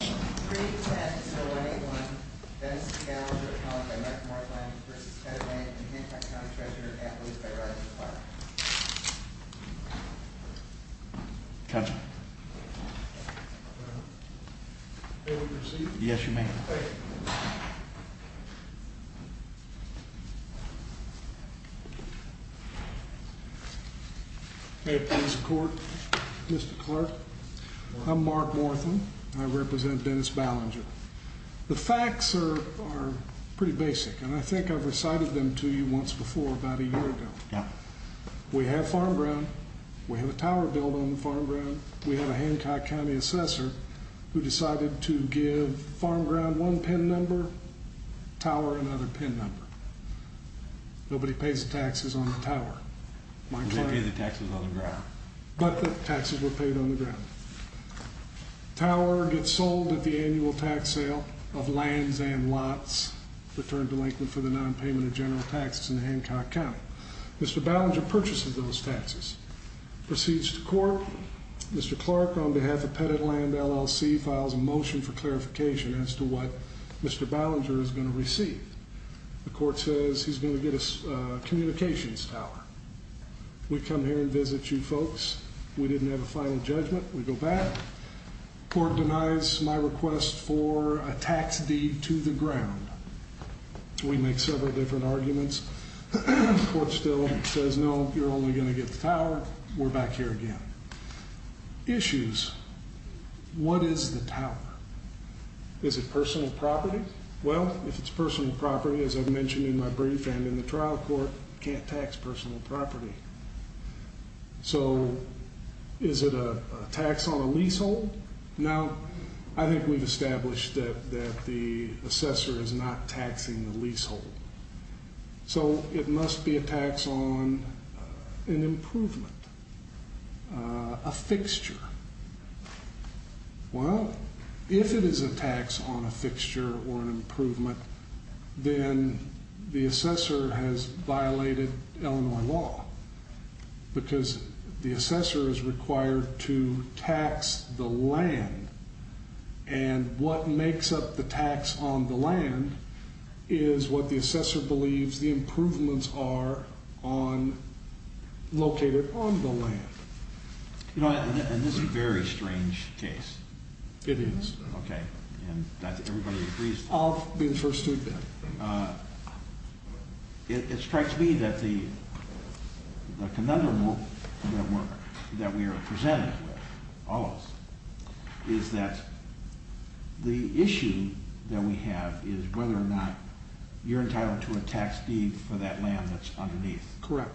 Pre-tests 0181, Dennis Gallagher, followed by Mark Morthen, versus Ted Lang, and the Manhattan County Treasurer, at least by a right of the clerk. Captain. May we proceed? Yes, you may. Thank you. Hey, police and court. Mr. Clerk, I'm Mark Morthen, and I represent Dennis Ballinger. The facts are pretty basic, and I think I've recited them to you once before about a year ago. We have farm ground. We have a tower built on the farm ground. We have a Hancock County Assessor who decided to give farm ground one PIN number, tower another PIN number. Nobody pays the taxes on the tower. But the taxes were paid on the ground. Tower gets sold at the annual tax sale of lands and lots returned to Lincoln for the non-payment of general taxes in Hancock County. Mr. Ballinger purchases those taxes. Proceeds to court. Mr. Clerk, on behalf of Pettitland LLC, files a motion for clarification as to what Mr. Ballinger is going to receive. The court says he's going to get a communications tower. We come here and visit you folks. We didn't have a final judgment. We go back. Court denies my request for a tax deed to the ground. We make several different arguments. The court still says, no, you're only going to get the tower. We're back here again. Issues. What is the tower? Is it personal property? Well, if it's personal property, as I've mentioned in my brief and in the trial court, you can't tax personal property. So, is it a tax on a leasehold? Now, I think we've established that the assessor is not taxing the leasehold. So, it must be a tax on an improvement, a fixture. Well, if it is a tax on a fixture or an improvement, then the assessor has violated Illinois law. Because the assessor is required to tax the land. And what makes up the tax on the land is what the assessor believes the improvements are on, located on the land. You know, and this is a very strange case. It is. Okay. And everybody agrees? I'll be the first to admit. It strikes me that the conundrum that we are presented with, all of us, is that the issue that we have is whether or not you're entitled to a tax deed for that land that's underneath. Correct.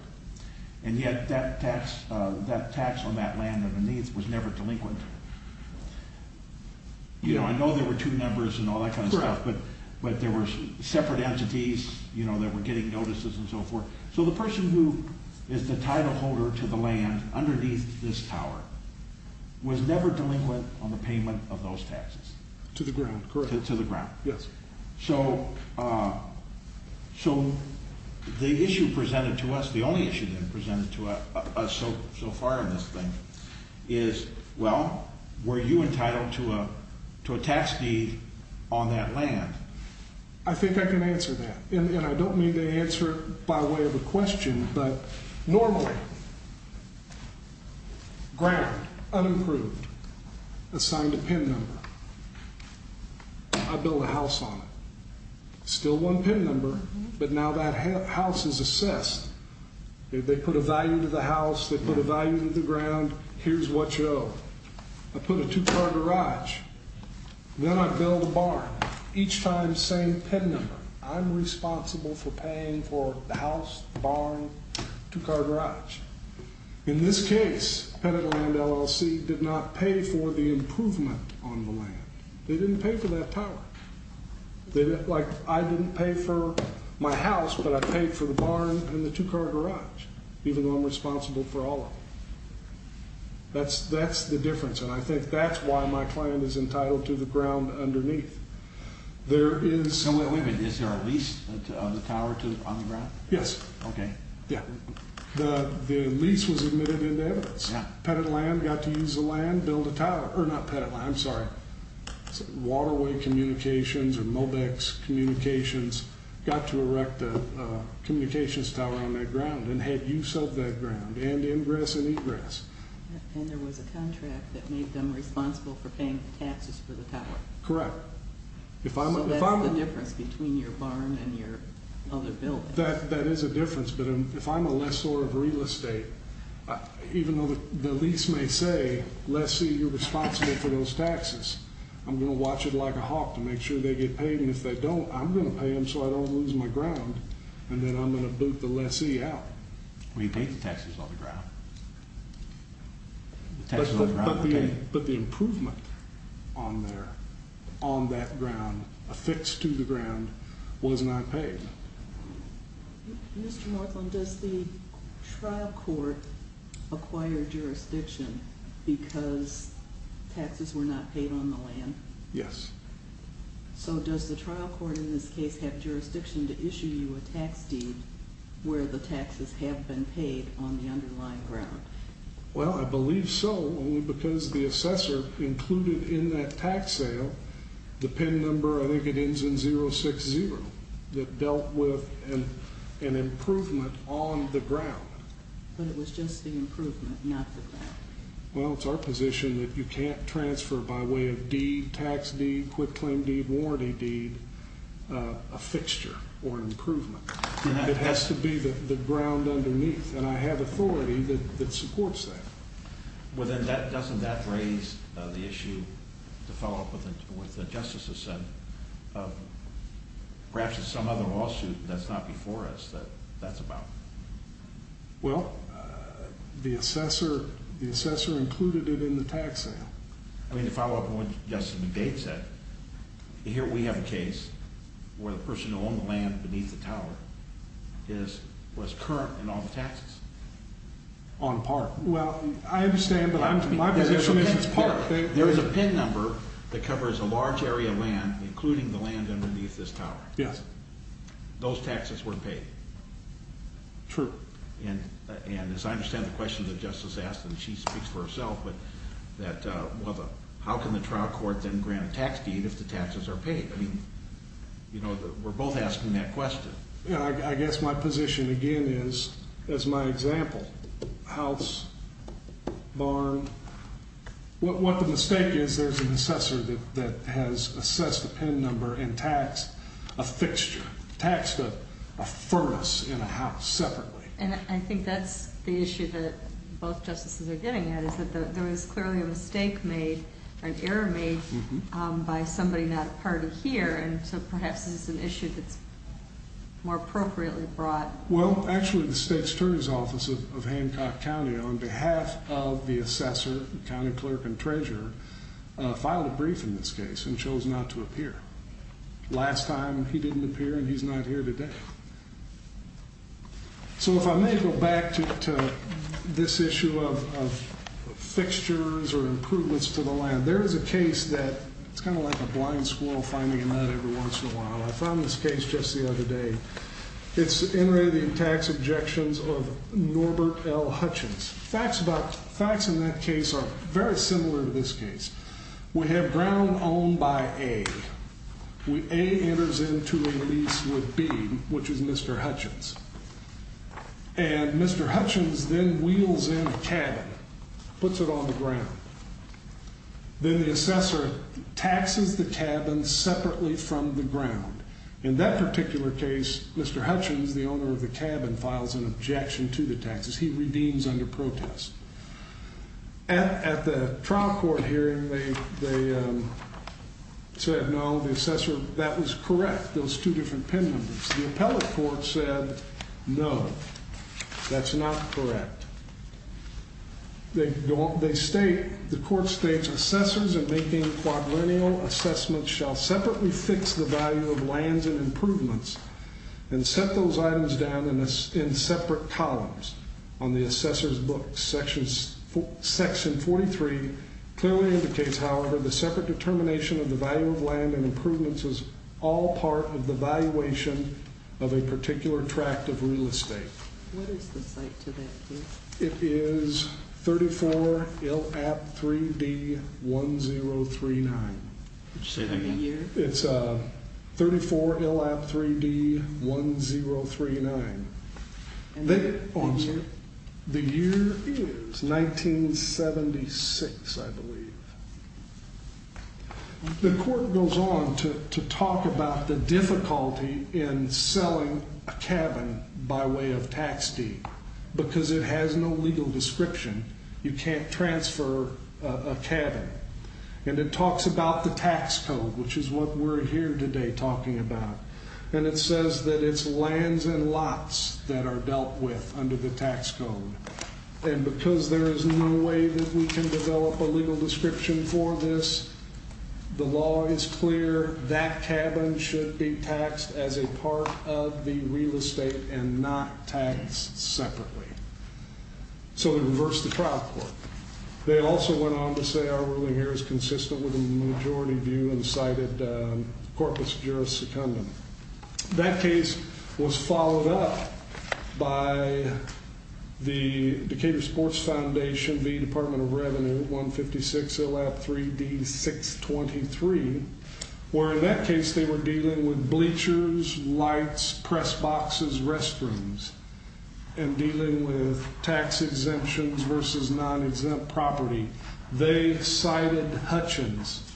And yet, that tax on that land underneath was never delinquent. You know, I know there were two numbers and all that kind of stuff, but there were separate entities, you know, that were getting notices and so forth. So, the person who is the title holder to the land underneath this tower was never delinquent on the payment of those taxes. To the ground, correct. To the ground. Yes. So, the issue presented to us, the only issue presented to us so far in this thing, is, well, were you entitled to a tax deed on that land? I think I can answer that. And I don't mean to answer it by way of a question, but normally, ground, unimproved, assigned a PIN number. I build a house on it. Still one PIN number, but now that house is assessed. They put a value to the house, they put a value to the ground, here's what you owe. I put a two-car garage. Then I build a barn. Each time, same PIN number. I'm responsible for paying for the house, the barn, two-car garage. In this case, Pennant Land LLC did not pay for the improvement on the land. They didn't pay for that tower. Like, I didn't pay for my house, but I paid for the barn and the two-car garage, even though I'm responsible for all of them. That's the difference, and I think that's why my client is entitled to the ground underneath. There is... Wait a minute. Is there a lease of the tower on the ground? Yes. Okay. Yeah. The lease was admitted into evidence. Pennant Land got to use the land, build a tower. Or not Pennant Land, I'm sorry. Waterway Communications or Mobex Communications got to erect a communications tower on that ground and had use of that ground, and ingress and egress. And there was a contract that made them responsible for paying the taxes for the tower. Correct. So that's the difference between your barn and your other building. That is a difference, but if I'm a lessor of real estate, even though the lease may say, Lessee, you're responsible for those taxes, I'm going to watch it like a hawk to make sure they get paid, and if they don't, I'm going to pay them so I don't lose my ground, and then I'm going to boot the lessee out. Well, you paid the taxes on the ground. But the improvement on there, on that ground, affixed to the ground, was not paid. Mr. Northland, does the trial court acquire jurisdiction because taxes were not paid on the land? Yes. So does the trial court in this case have jurisdiction to issue you a tax deed where the taxes have been paid on the underlying ground? Well, I believe so, only because the assessor included in that tax sale the PIN number, I think it ends in 060, that dealt with an improvement on the ground. But it was just the improvement, not the ground. Well, it's our position that you can't transfer by way of deed, tax deed, quick claim deed, warranty deed, a fixture or improvement. It has to be the ground underneath, and I have authority that supports that. Well, then doesn't that raise the issue, to follow up with what the justices said, of perhaps it's some other lawsuit that's not before us that that's about? Well, the assessor included it in the tax sale. I mean, to follow up on what Justice McDade said, here we have a case where the person who owned the land beneath the tower was current in all the taxes. On part. Well, I understand, but my position is it's part of it. There is a PIN number that covers a large area of land, including the land underneath this tower. Yes. Those taxes weren't paid. True. And as I understand the question that Justice asked, and she speaks for herself, but that how can the trial court then grant a tax deed if the taxes are paid? I mean, you know, we're both asking that question. I guess my position again is, as my example, house, barn. What the mistake is, there's an assessor that has assessed the PIN number and taxed a fixture, taxed a furnace in a house separately. And I think that's the issue that both justices are getting at, is that there was clearly a mistake made, an error made, by somebody not a party here, and so perhaps this is an issue that's more appropriately brought. Well, actually the state's attorney's office of Hancock County, on behalf of the assessor, county clerk, and treasurer, filed a brief in this case and chose not to appear. Last time he didn't appear and he's not here today. So if I may go back to this issue of fixtures or improvements to the land. There is a case that, it's kind of like a blind squirrel finding a nut every once in a while. I found this case just the other day. It's in relating tax objections of Norbert L. Hutchins. Facts in that case are very similar to this case. We have ground owned by A. A enters into a lease with B, which is Mr. Hutchins. And Mr. Hutchins then wheels in a cabin, puts it on the ground. Then the assessor taxes the cabin separately from the ground. In that particular case, Mr. Hutchins, the owner of the cabin, files an objection to the taxes he redeems under protest. At the trial court hearing, they said no, the assessor, that was correct, those two different pin numbers. The appellate court said no, that's not correct. They state, the court states, assessors in making quadrennial assessments shall separately fix the value of lands and improvements and set those items down in separate columns on the assessor's book. Section 43 clearly indicates, however, the separate determination of the value of land and improvements is all part of the valuation of a particular tract of real estate. What is the site to that case? It is 34 LAP 3D 1039. Would you say that again? It's 34 LAP 3D 1039. The year is 1976, I believe. The court goes on to talk about the difficulty in selling a cabin by way of tax deed because it has no legal description. You can't transfer a cabin. And it talks about the tax code, which is what we're here today talking about. And it says that it's lands and lots that are dealt with under the tax code. And because there is no way that we can develop a legal description for this, the law is clear that cabin should be taxed as a part of the real estate and not taxed separately. So they reversed the trial court. They also went on to say our ruling here is consistent with the majority view and cited corpus juris secundum. That case was followed up by the Decatur Sports Foundation, the Department of Revenue, 156 LAP 3D 623, where in that case they were dealing with bleachers, lights, press boxes, restrooms, and dealing with tax exemptions versus non-exempt property. They cited Hutchins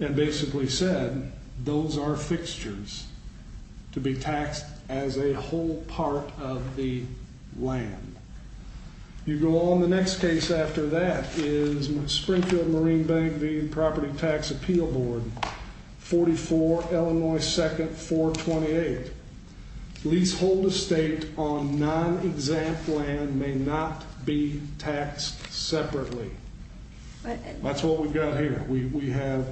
and basically said those are fixtures to be taxed as a whole part of the land. You go on, the next case after that is Springfield Marine Bank v. Property Tax Appeal Board, 44 Illinois 2nd 428. Leasehold estate on non-exempt land may not be taxed separately. That's what we've got here. We have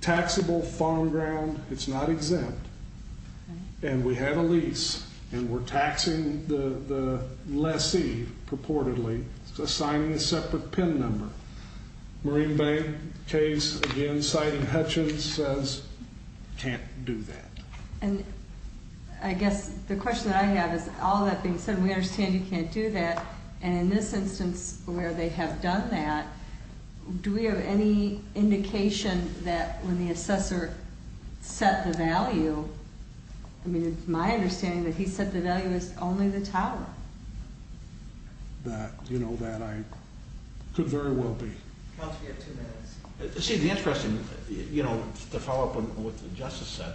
taxable farm ground, it's not exempt, and we have a lease and we're taxing the lessee purportedly, assigning a separate PIN number. Marine Bank case again citing Hutchins says can't do that. And I guess the question that I have is all that being said, we understand you can't do that, and in this instance where they have done that, do we have any indication that when the assessor set the value, I mean it's my understanding that he said the value is only the tower. That, you know, that I could very well be. Counsel, you have two minutes. See, the interesting, you know, to follow up on what the Justice said,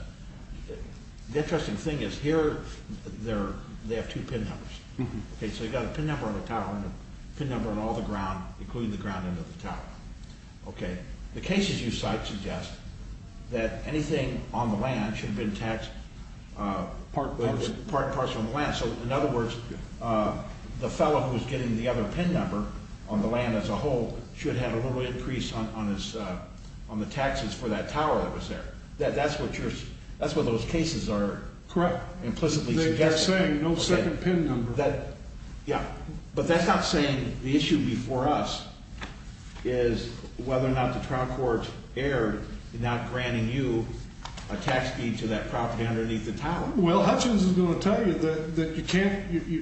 the interesting thing is here they have two PIN numbers. Okay, so you've got a PIN number on the tower and a PIN number on all the ground, including the ground end of the tower. Okay, the cases you cite suggest that anything on the land should have been taxed part and parcel of the land. So in other words, the fellow who was getting the other PIN number on the land as a whole should have had a little increase on the taxes for that tower that was there. That's what those cases are implicitly suggesting. That's what they're saying, no second PIN number. Yeah, but that's not saying the issue before us is whether or not the trial court erred in not granting you a tax deed to that property underneath the tower. Well, Hutchins is going to tell you that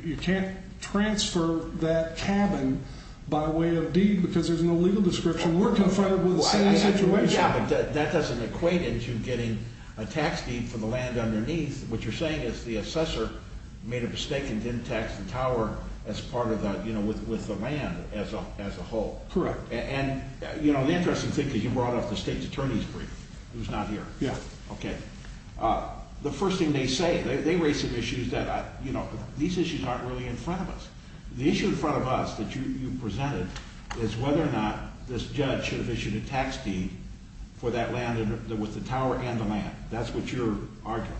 you can't transfer that cabin by way of deed because there's no legal description. We're confronted with the same situation. Yeah, but that doesn't equate into getting a tax deed for the land underneath. What you're saying is the assessor made a mistake and didn't tax the tower as part of the land as a whole. Correct. And the interesting thing is you brought up the State's Attorney's Brief. It was not here. Yeah. Okay. The first thing they say, they raise some issues that, you know, these issues aren't really in front of us. The issue in front of us that you presented is whether or not this judge should have issued a tax deed for that land with the tower and the land. That's what you're arguing.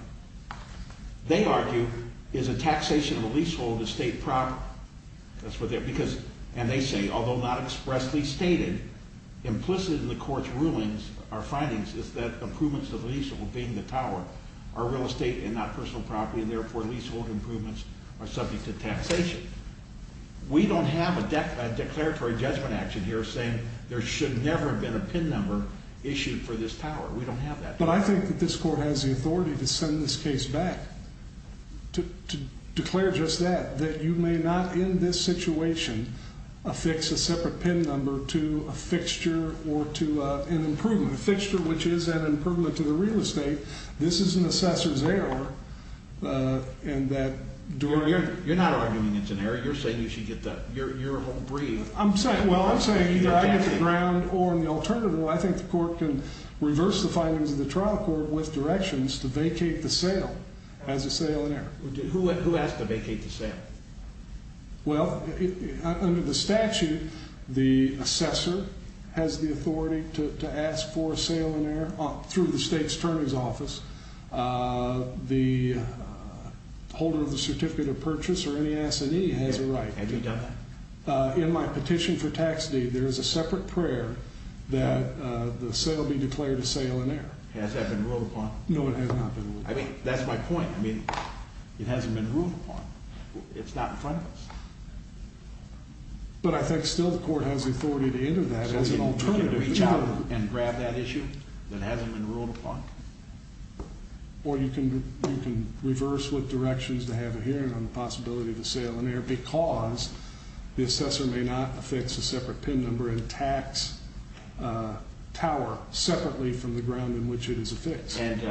They argue is a taxation of a leasehold estate property. That's what they're, because, and they say, although not expressly stated, implicit in the court's rulings, our findings is that improvements to the leasehold being the tower are real estate and not personal property, and therefore leasehold improvements are subject to taxation. We don't have a declaratory judgment action here saying there should never have been a PIN number issued for this tower. We don't have that. But I think that this court has the authority to send this case back to declare just that, that you may not in this situation affix a separate PIN number to a fixture or to an improvement, a fixture which is an improvement to the real estate. This is an assessor's error, and that during... You're not arguing it's an error. You're saying you should get the, you're a whole brief. I'm saying, well, I'm saying either I get the ground, or in the alternative, I think the court can reverse the findings of the trial court with directions to vacate the sale as a sale in error. Who asked to vacate the sale? Well, under the statute, the assessor has the authority to ask for a sale in error through the state's attorney's office. The holder of the certificate of purchase or any assignee has a right. Have you done that? In my petition for tax deed, there is a separate prayer that the sale be declared a sale in error. Has that been ruled upon? No, it has not been ruled upon. I mean, that's my point. I mean, it hasn't been ruled upon. It's not in front of us. But I think still the court has the authority to enter that as an alternative. So you can reach out and grab that issue that hasn't been ruled upon? Or you can, you can reverse with directions to have a hearing on the possibility of a sale in error because the assessor may not affix a separate PIN number and tax tower separately from the ground in which it is affixed. And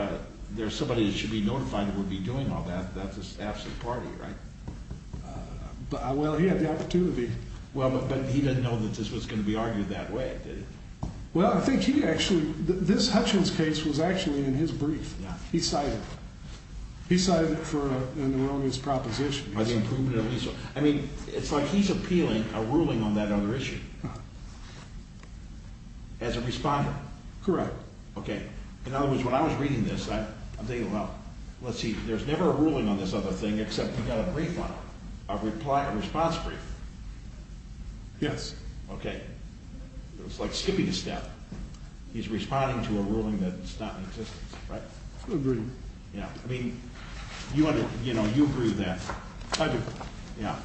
there's somebody that should be notified who would be doing all that. That's the staff's party, right? Well, he had the opportunity. Well, but he didn't know that this was going to be argued that way, did he? Well, I think he actually, this Hutchins case was actually in his brief. Yeah. He cited it. He cited it for an erroneous proposition. By the improvement of his... I mean, it's like he's appealing a ruling on that other issue. As a responder. Correct. Okay. In other words, when I was reading this, I'm thinking, well, let's see, there's never a ruling on this other thing, except you got a brief on it. A reply, a response brief. Yes. Okay. It's like skipping a step. He's responding to a ruling that's not in existence, right? I agree. Yeah. I mean, you under, you know, you agree with that. I do. Yeah.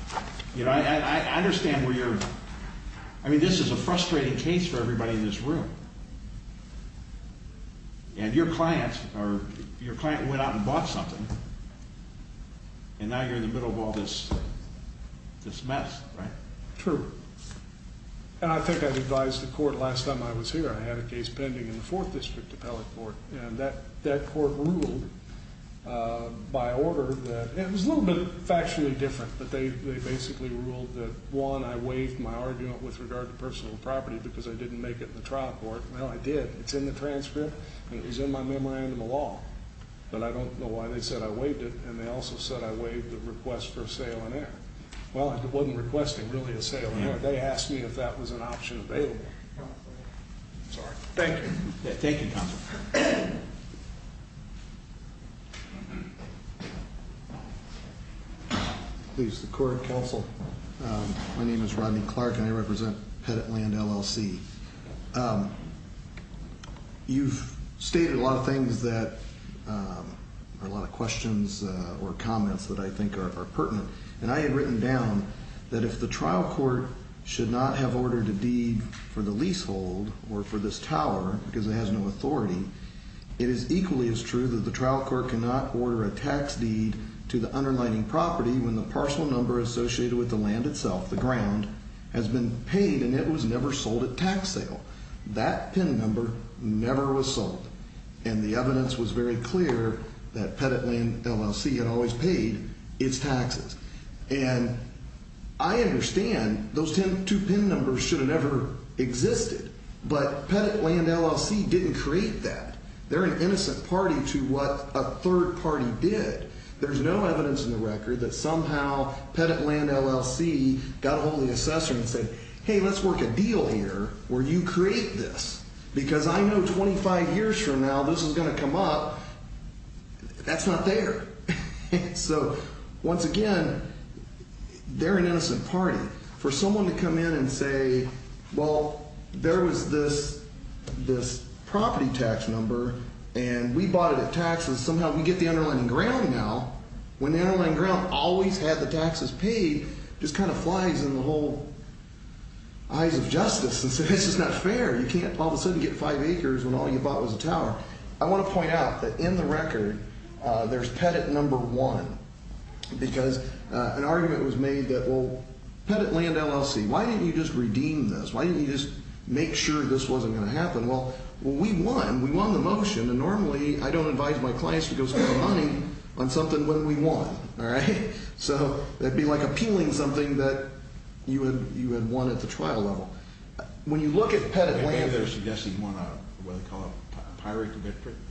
You know, I understand where you're... I mean, this is a frustrating case for everybody in this room. And your clients are, your client went out and bought something, and now you're in the middle of all this, this mess, right? True. And I think I've advised the court, last time I was here, I had a case pending in the 4th District Appellate Court, and that, that court ruled, by order that, it was a little bit factually different, but they, they basically ruled that, one, I waived my argument with regard to personal property, because I didn't make it in the trial court. Well, I did. It's in the transcript, and it was in my memorandum of law. But I don't know why they said I waived it, and they also said I waived the request for a sale on air. Well, I wasn't requesting, really, a sale on air. They asked me if that was an option available. Sorry. Thank you. Thank you, counsel. Please, the court, counsel. My name is Rodney Clark, and I represent Pettitland, LLC. You've stated a lot of things that, or a lot of questions or comments that I think are pertinent, and I had written down that if the trial court should not have ordered a deed for the leasehold, or for this tower, because it has no authority, it is equally as true that the trial court cannot order a tax deed to the underlining property when the parcel number associated with the land itself, the ground, has been paid, and it was never sold at tax sale. That PIN number never was sold, and the evidence was very clear that Pettitland, LLC had always paid its taxes. And I understand those two PIN numbers should have never existed, but Pettitland, LLC didn't create that. They're an innocent party to what a third party did. There's no evidence in the record that somehow Pettitland, LLC got ahold of the assessor and said, hey, let's work a deal here where you create this, because I know 25 years from now this is going to come up. That's not there. So, once again, they're an innocent party. For someone to come in and say, well, there was this property tax number, and we bought it at tax, and somehow we get the underlining ground now, when the underlining ground always had the taxes paid, just kind of flies in the whole eyes of justice and says it's just not fair. You can't all of a sudden get five acres when all you bought was a tower. I want to point out that in the record there's Pettit number one, because an argument was made that, well, Pettitland, LLC, why didn't you just redeem this? Why didn't you just make sure this wasn't going to happen? Well, we won. We won the motion, and normally I don't advise my clients to go spend money on something when we won. All right? So, that would be like appealing something that you had won at the trial level. When you look at Pettitland... They're suggesting you won a, what do they call it, a pirate to get prisoned?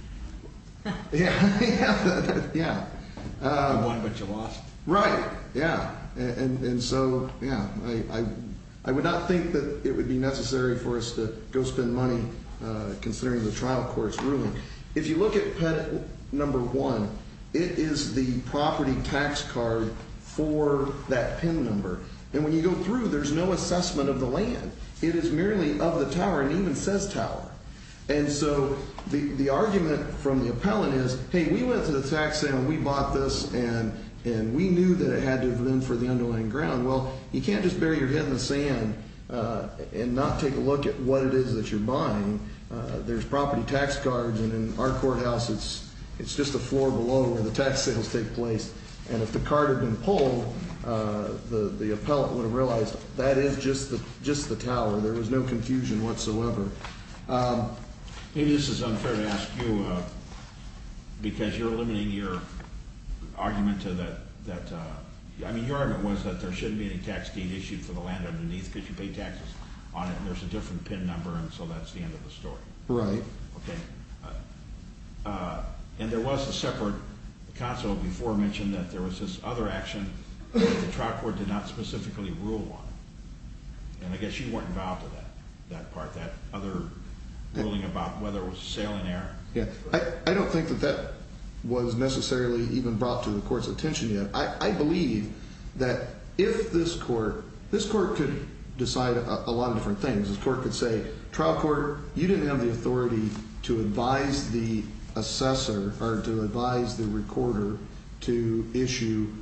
Yeah. Yeah. You won, but you lost. Right. Yeah. And so, yeah. I would not think that it would be necessary for us to go spend money considering the trial court's ruling. If you look at Pettit number one, it is the property tax card for that PIN number. And when you go through, there's no assessment of the land. It is merely of the tower, and it even says tower. And so, the argument from the appellant is, hey, we went to the tax stand, and we bought this, and we knew that it had to have been for the underlying ground. Well, you can't just bury your head in the sand and not take a look at what it is that you're buying. There's property tax cards, and in our courthouse, it's just the floor below where the tax sales take place. And if the card had been pulled, the appellant would have realized that is just the tower. There was no confusion whatsoever. Maybe this is unfair to ask you, because you're eliminating your argument to that. I mean, your argument was that there shouldn't be any tax deed issued for the land underneath because you pay taxes on it, and there's a different PIN number, and so that's the end of the story. Right. Okay. And there was a separate counsel before mentioned that there was this other action that the trial court did not specifically rule on. And I guess you weren't involved in that part, that other ruling about whether it was a sale in error. I don't think that that was necessarily even brought to the court's attention yet. I believe that if this court, this court could decide a lot of different things. This court could say, trial court, you didn't have the authority to advise the assessor, or to advise the recorder, to issue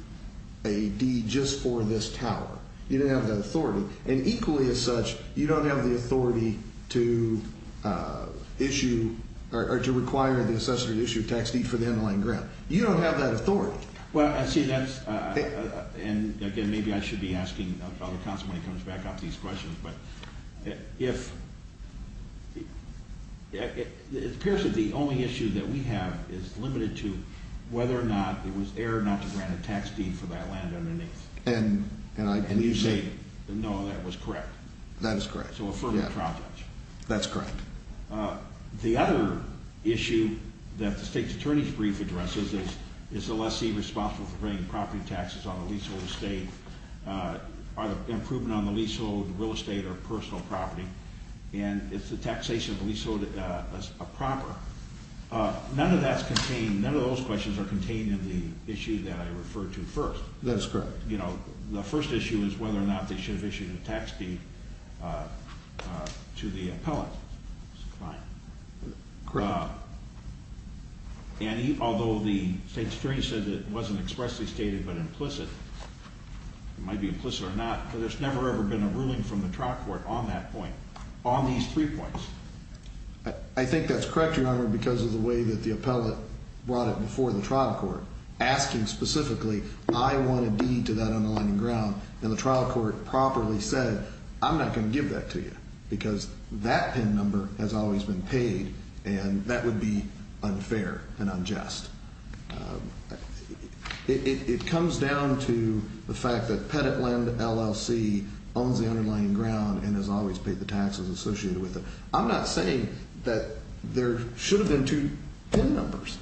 a deed just for this tower. You didn't have that authority. And equally as such, you don't have the authority to issue, or to require the assessor to issue a tax deed for the in-line grant. You don't have that authority. Well, I see that. And again, maybe I should be asking the other counsel when he comes back after these questions, but if, it appears that the only issue that we have is limited to whether or not it was error not to grant a tax deed for that land underneath. And you say, no, that was correct. That is correct. So a further trial judge. That's correct. The other issue that the State's Attorney's Brief addresses is, is the lessee responsible for paying property taxes on the leasehold estate? Are the improvement on the leasehold real estate or personal property? And is the taxation of the leasehold a proper? None of that's contained, none of those questions are contained in the issue that I referred to first. That is correct. You know, the first issue is whether or not they should have issued a tax deed to the appellant. Correct. And although the State's Attorney said that it wasn't expressly stated but implicit, it might be implicit or not, because there's never ever been a ruling from the trial court on that point, on these three points. I think that's correct, Your Honor, because of the way that the appellant brought it before the trial court, asking specifically, I want a deed to that underlying ground, and the trial court properly said, I'm not going to give that to you, because that PIN number has always been paid, and that would be unfair and unjust. It comes down to the fact that Pettitland LLC owns the underlying ground and has always paid the taxes associated with it. I'm not saying that there should have been two PIN numbers.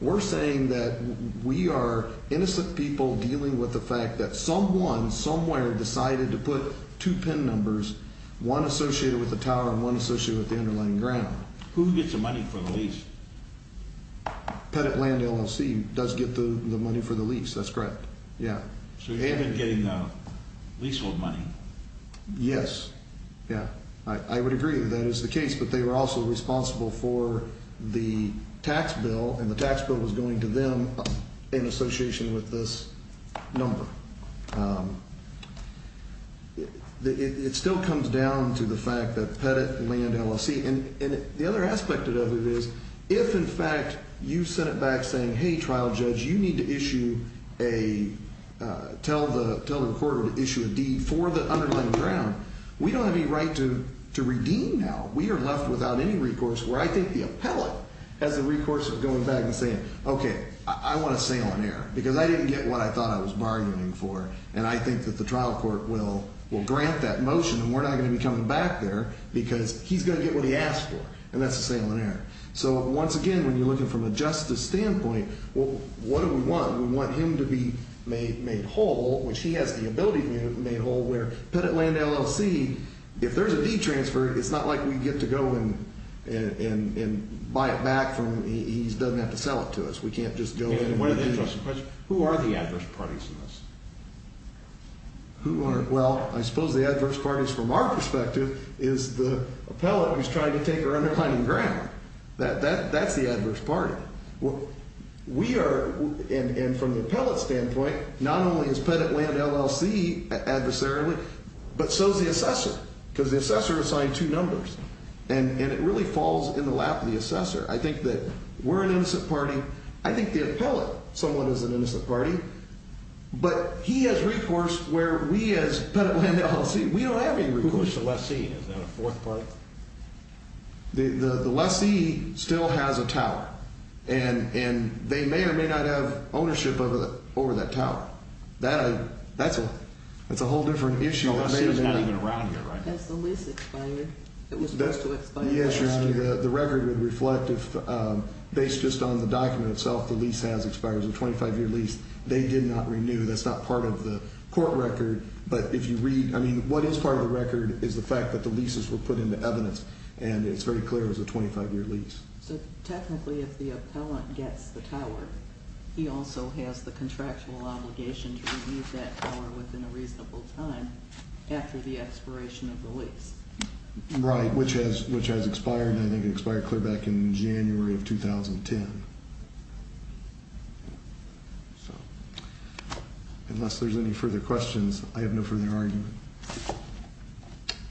We're saying that we are innocent people dealing with the fact that someone, somewhere, decided to put two PIN numbers, one associated with the tower and one associated with the underlying ground. Who gets the money for the lease? Pettitland LLC does get the money for the lease. That's correct. Yeah. So you're getting the leasehold money. Yes. Yeah. I would agree that that is the case, but they were also responsible for the tax bill, and the tax bill was going to them in association with this number. It still comes down to the fact that Pettitland LLC, and the other aspect of it is, if, in fact, you sent it back saying, hey, trial judge, you need to issue a, tell the court to issue a deed for the underlying ground, we don't have any right to redeem now. We are left without any recourse where I think the appellate has the recourse of going back and saying, okay, I want a sale on air because I didn't get what I thought I was bargaining for, and I think that the trial court will grant that motion and we're not going to be coming back there because he's going to get what he asked for, and that's a sale on air. So, once again, when you're looking from a justice standpoint, what do we want? We want him to be made whole, which he has the ability to be made whole, where Pettitland LLC, if there's a deed transfer, it's not like we get to go and buy it back from, he doesn't have to sell it to us. We can't just go in and redeem it. Who are the adverse parties in this? Who are, well, I suppose the adverse parties, from our perspective, is the appellate who's trying to take our underlying ground. That's the adverse party. We are, and from the appellate standpoint, not only is Pettitland LLC adversarially, but so is the assessor, because the assessor assigned two numbers, and it really falls in the lap of the assessor. I think that we're an innocent party. I think the appellate somewhat is an innocent party, but he has recourse where we as Pettitland LLC, we don't have any recourse. Who is the lessee? Is that a fourth party? The lessee still has a tower. And they may or may not have ownership over that tower. That's a whole different issue. No, the lessee is not even around here right now. Has the lease expired? It was supposed to expire last year. The record would reflect, based just on the document itself, the lease has expired. It was a 25-year lease. They did not renew. That's not part of the court record, but if you read, I mean, what is part of the record is the fact that the leases were put into evidence, and it's very clear it was a 25-year lease. So technically, if the appellant gets the tower, he also has the contractual obligation to renew that tower within a reasonable time after the expiration of the lease. Right, which has expired, and I think it expired clear back in January of 2010. Unless there's any further questions, I have no further argument.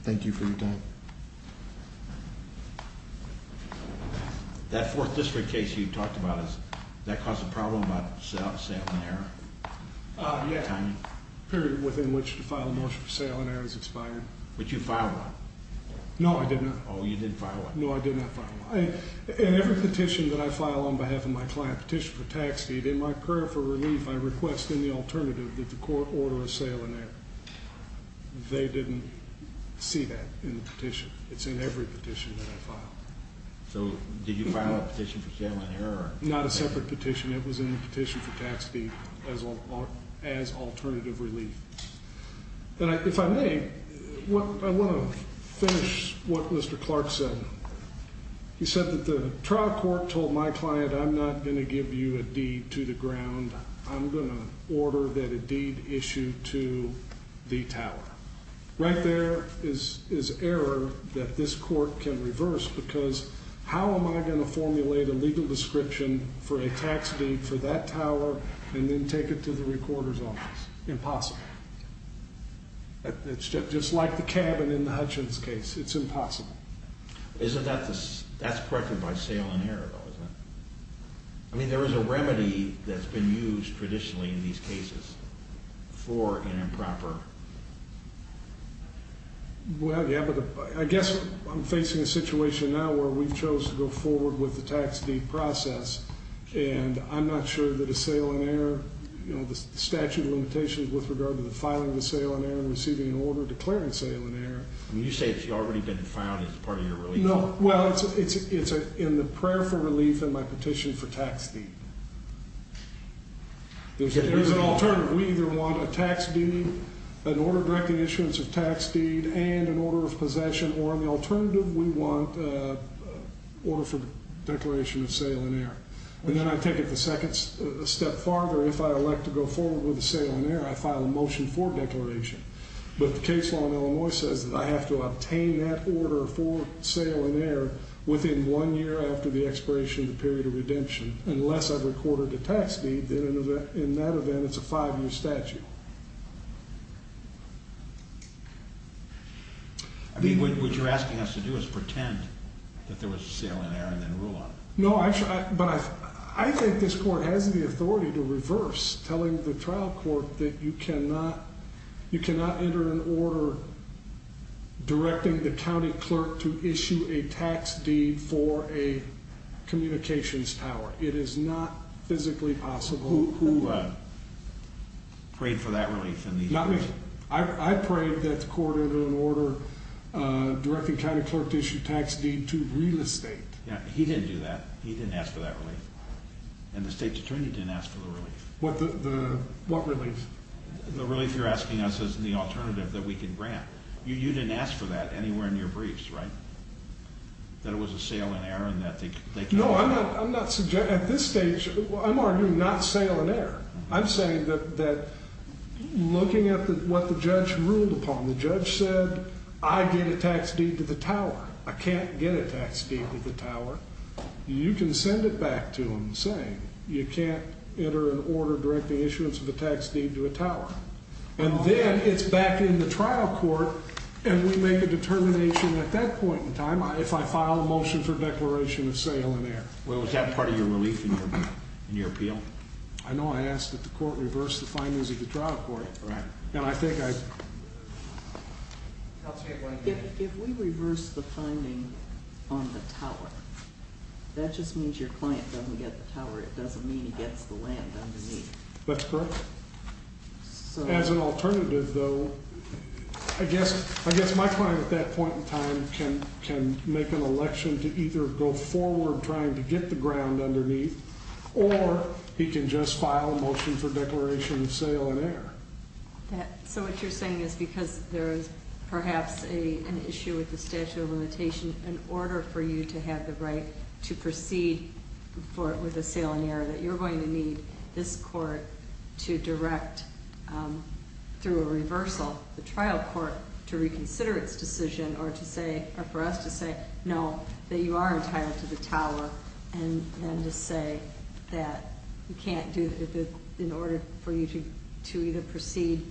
Thank you for your time. That 4th District case you talked about, does that cause a problem about sale and error? Yes, period within which to file a motion for sale and error has expired. But you filed one. No, I did not. Oh, you did file one. No, I did not file one. In every petition that I file on behalf of my client, petition for tax deed, in my prayer for relief, I request in the alternative that the court order a sale and error. They didn't see that in the petition. It's in every petition that I file. So did you file a petition for sale and error? Not a separate petition. It was in the petition for tax deed as alternative relief. And if I may, I want to finish what Mr. Clark said. He said that the trial court told my client I'm not going to give you a deed to the ground. I'm going to order that a deed issue to the tower. Right there is error that this court can reverse because how am I going to formulate a legal description for a tax deed for that tower and then take it to the recorder's office? Impossible. It's just like the cabin in the Hutchins case. It's impossible. Isn't that the... That's corrected by sale and error, though, isn't it? I mean, there is a remedy that's been used traditionally in these cases for an improper... Well, yeah, but I guess I'm facing a situation now where we've chosen to go forward with the tax deed process and I'm not sure that a sale and error, you know, the statute of limitations with regard to the filing of the sale and error and receiving an order declaring sale and error... You say it's already been found as part of your relief law. No, well, it's in the prayer for relief in my petition for tax deed. There's an alternative. We either want a tax deed, an order directing issuance of tax deed, and an order of possession, or on the alternative, we want an order for declaration of sale and error. And then I take it a second step farther. If I elect to go forward with the sale and error, I file a motion for declaration. But the case law in Illinois says that I have to obtain that order for sale and error within one year after the expiration of the period of redemption, unless I've recorded a tax deed. In that event, it's a five-year statute. I mean, what you're asking us to do is pretend that there was sale and error and then rule on it. No, but I think this court has the authority to reverse telling the trial court that you cannot enter an order directing the county clerk to issue a tax deed for a communications tower. It is not physically possible. Who prayed for that relief in these cases? I prayed that the court entered an order directing county clerk to issue tax deed to real estate. Yeah, he didn't do that. He didn't ask for that relief. And the state's attorney didn't ask for the relief. What relief? The relief you're asking us as the alternative that we can grant. You didn't ask for that anywhere in your briefs, right? That it was a sale and error and that they could... No, I'm not suggesting... At this stage, I'm arguing not sale and error. I'm saying that looking at what the judge ruled upon, the judge said, I get a tax deed to the tower. I can't get a tax deed to the tower. You can send it back to them saying, you can't enter an order directing issuance of a tax deed to a tower. And then it's back in the trial court and we make a determination at that point in time if I file a motion for declaration of sale and error. Was that part of your relief in your appeal? I know I asked that the court reverse the findings of the trial court. Right. And I think I... I'll take one here. If we reverse the finding on the tower, that just means your client doesn't get the tower. It doesn't mean he gets the land underneath. That's correct. So... As an alternative, though, I guess my client at that point in time can make an election to either go forward trying to get the ground underneath or he can just file a motion for declaration of sale and error. So what you're saying is because there's perhaps an issue with the statute of limitation, in order for you to have the right to proceed with a sale and error, that you're going to need this court to direct, through a reversal, the trial court to reconsider its decision or for us to say, no, that you are entitled to the tower and to say that you can't do... in order for you to either proceed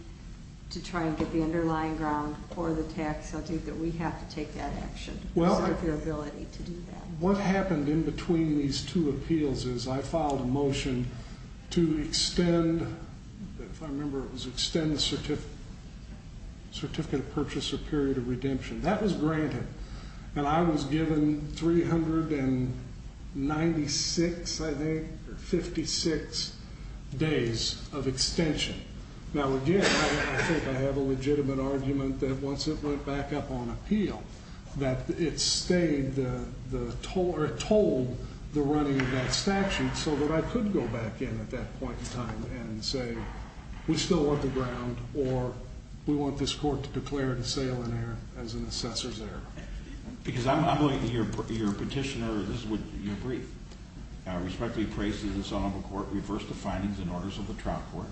to try and get the underlying ground or the tax, I think that we have to take that action. Well... Because of your ability to do that. What happened in between these two appeals is I filed a motion to extend... if I remember it was extend the certificate... certificate of purchase or period of redemption. That was granted. And I was given 396, I think, or 56 days of extension. Now again, I think I have a legitimate argument that once it went back up on appeal, that it stayed the... or told the running of that statute so that I could go back in at that point in time and say, we still want the ground a sale and error as an assessor's error. Because I'm going to... your petitioner... this is what you agreed. I respectfully pray that the Sonoma Court reverse the findings and orders of the trial court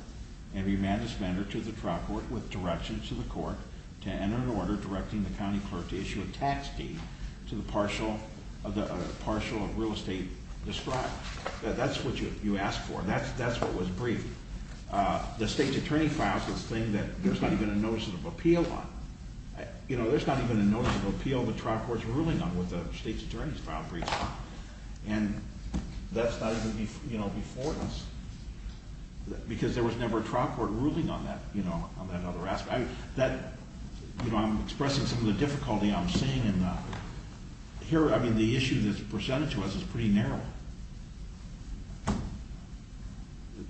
and remand the spender to the trial court with direction to the court to enter an order directing the county clerk to issue a tax deed to the partial of the... partial of real estate described. That's what you asked for. That's what was briefed. The state's attorney filed this thing that there's not even a notice of appeal on. You know, there's not even a notice of appeal the trial court's ruling on with the state's attorney's file briefed on. And that's not even, you know, before us. Because there was never a trial court ruling on that, you know, on that other aspect. That, you know, I'm expressing some of the difficulty I'm seeing in the... Here, I mean, the issue that's presented to us is pretty narrow.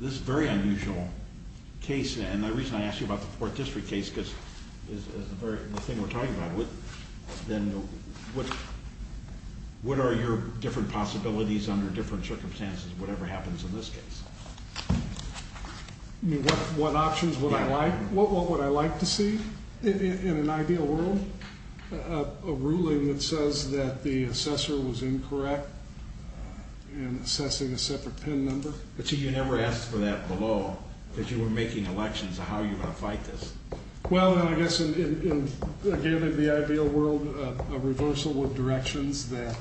This very unusual case, and the reason I asked you about the 4th District case because it's a very... the thing we're talking about, then what are your different possibilities under different circumstances, whatever happens in this case? I mean, what options would I like? What would I like to see in an ideal world? A ruling that says that the assessor was incorrect in assessing a separate PIN number? But you never asked for that below, that you were making elections. How are you going to fight this? Well, I guess, again, in the ideal world, a reversal with directions that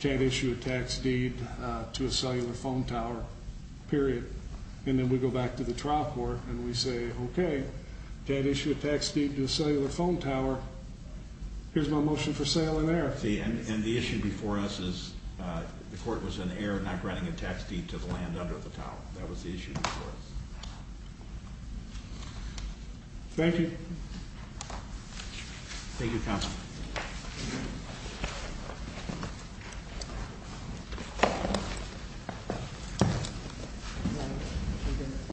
can't issue a tax deed to a cellular phone tower, period. And then we go back to the trial court and we say, okay, can't issue a tax deed to a cellular phone tower. Here's my motion for sale and error. And the issue before us is the court was in error not granting a tax deed to the land under the tower. That was the issue before us. Thank you.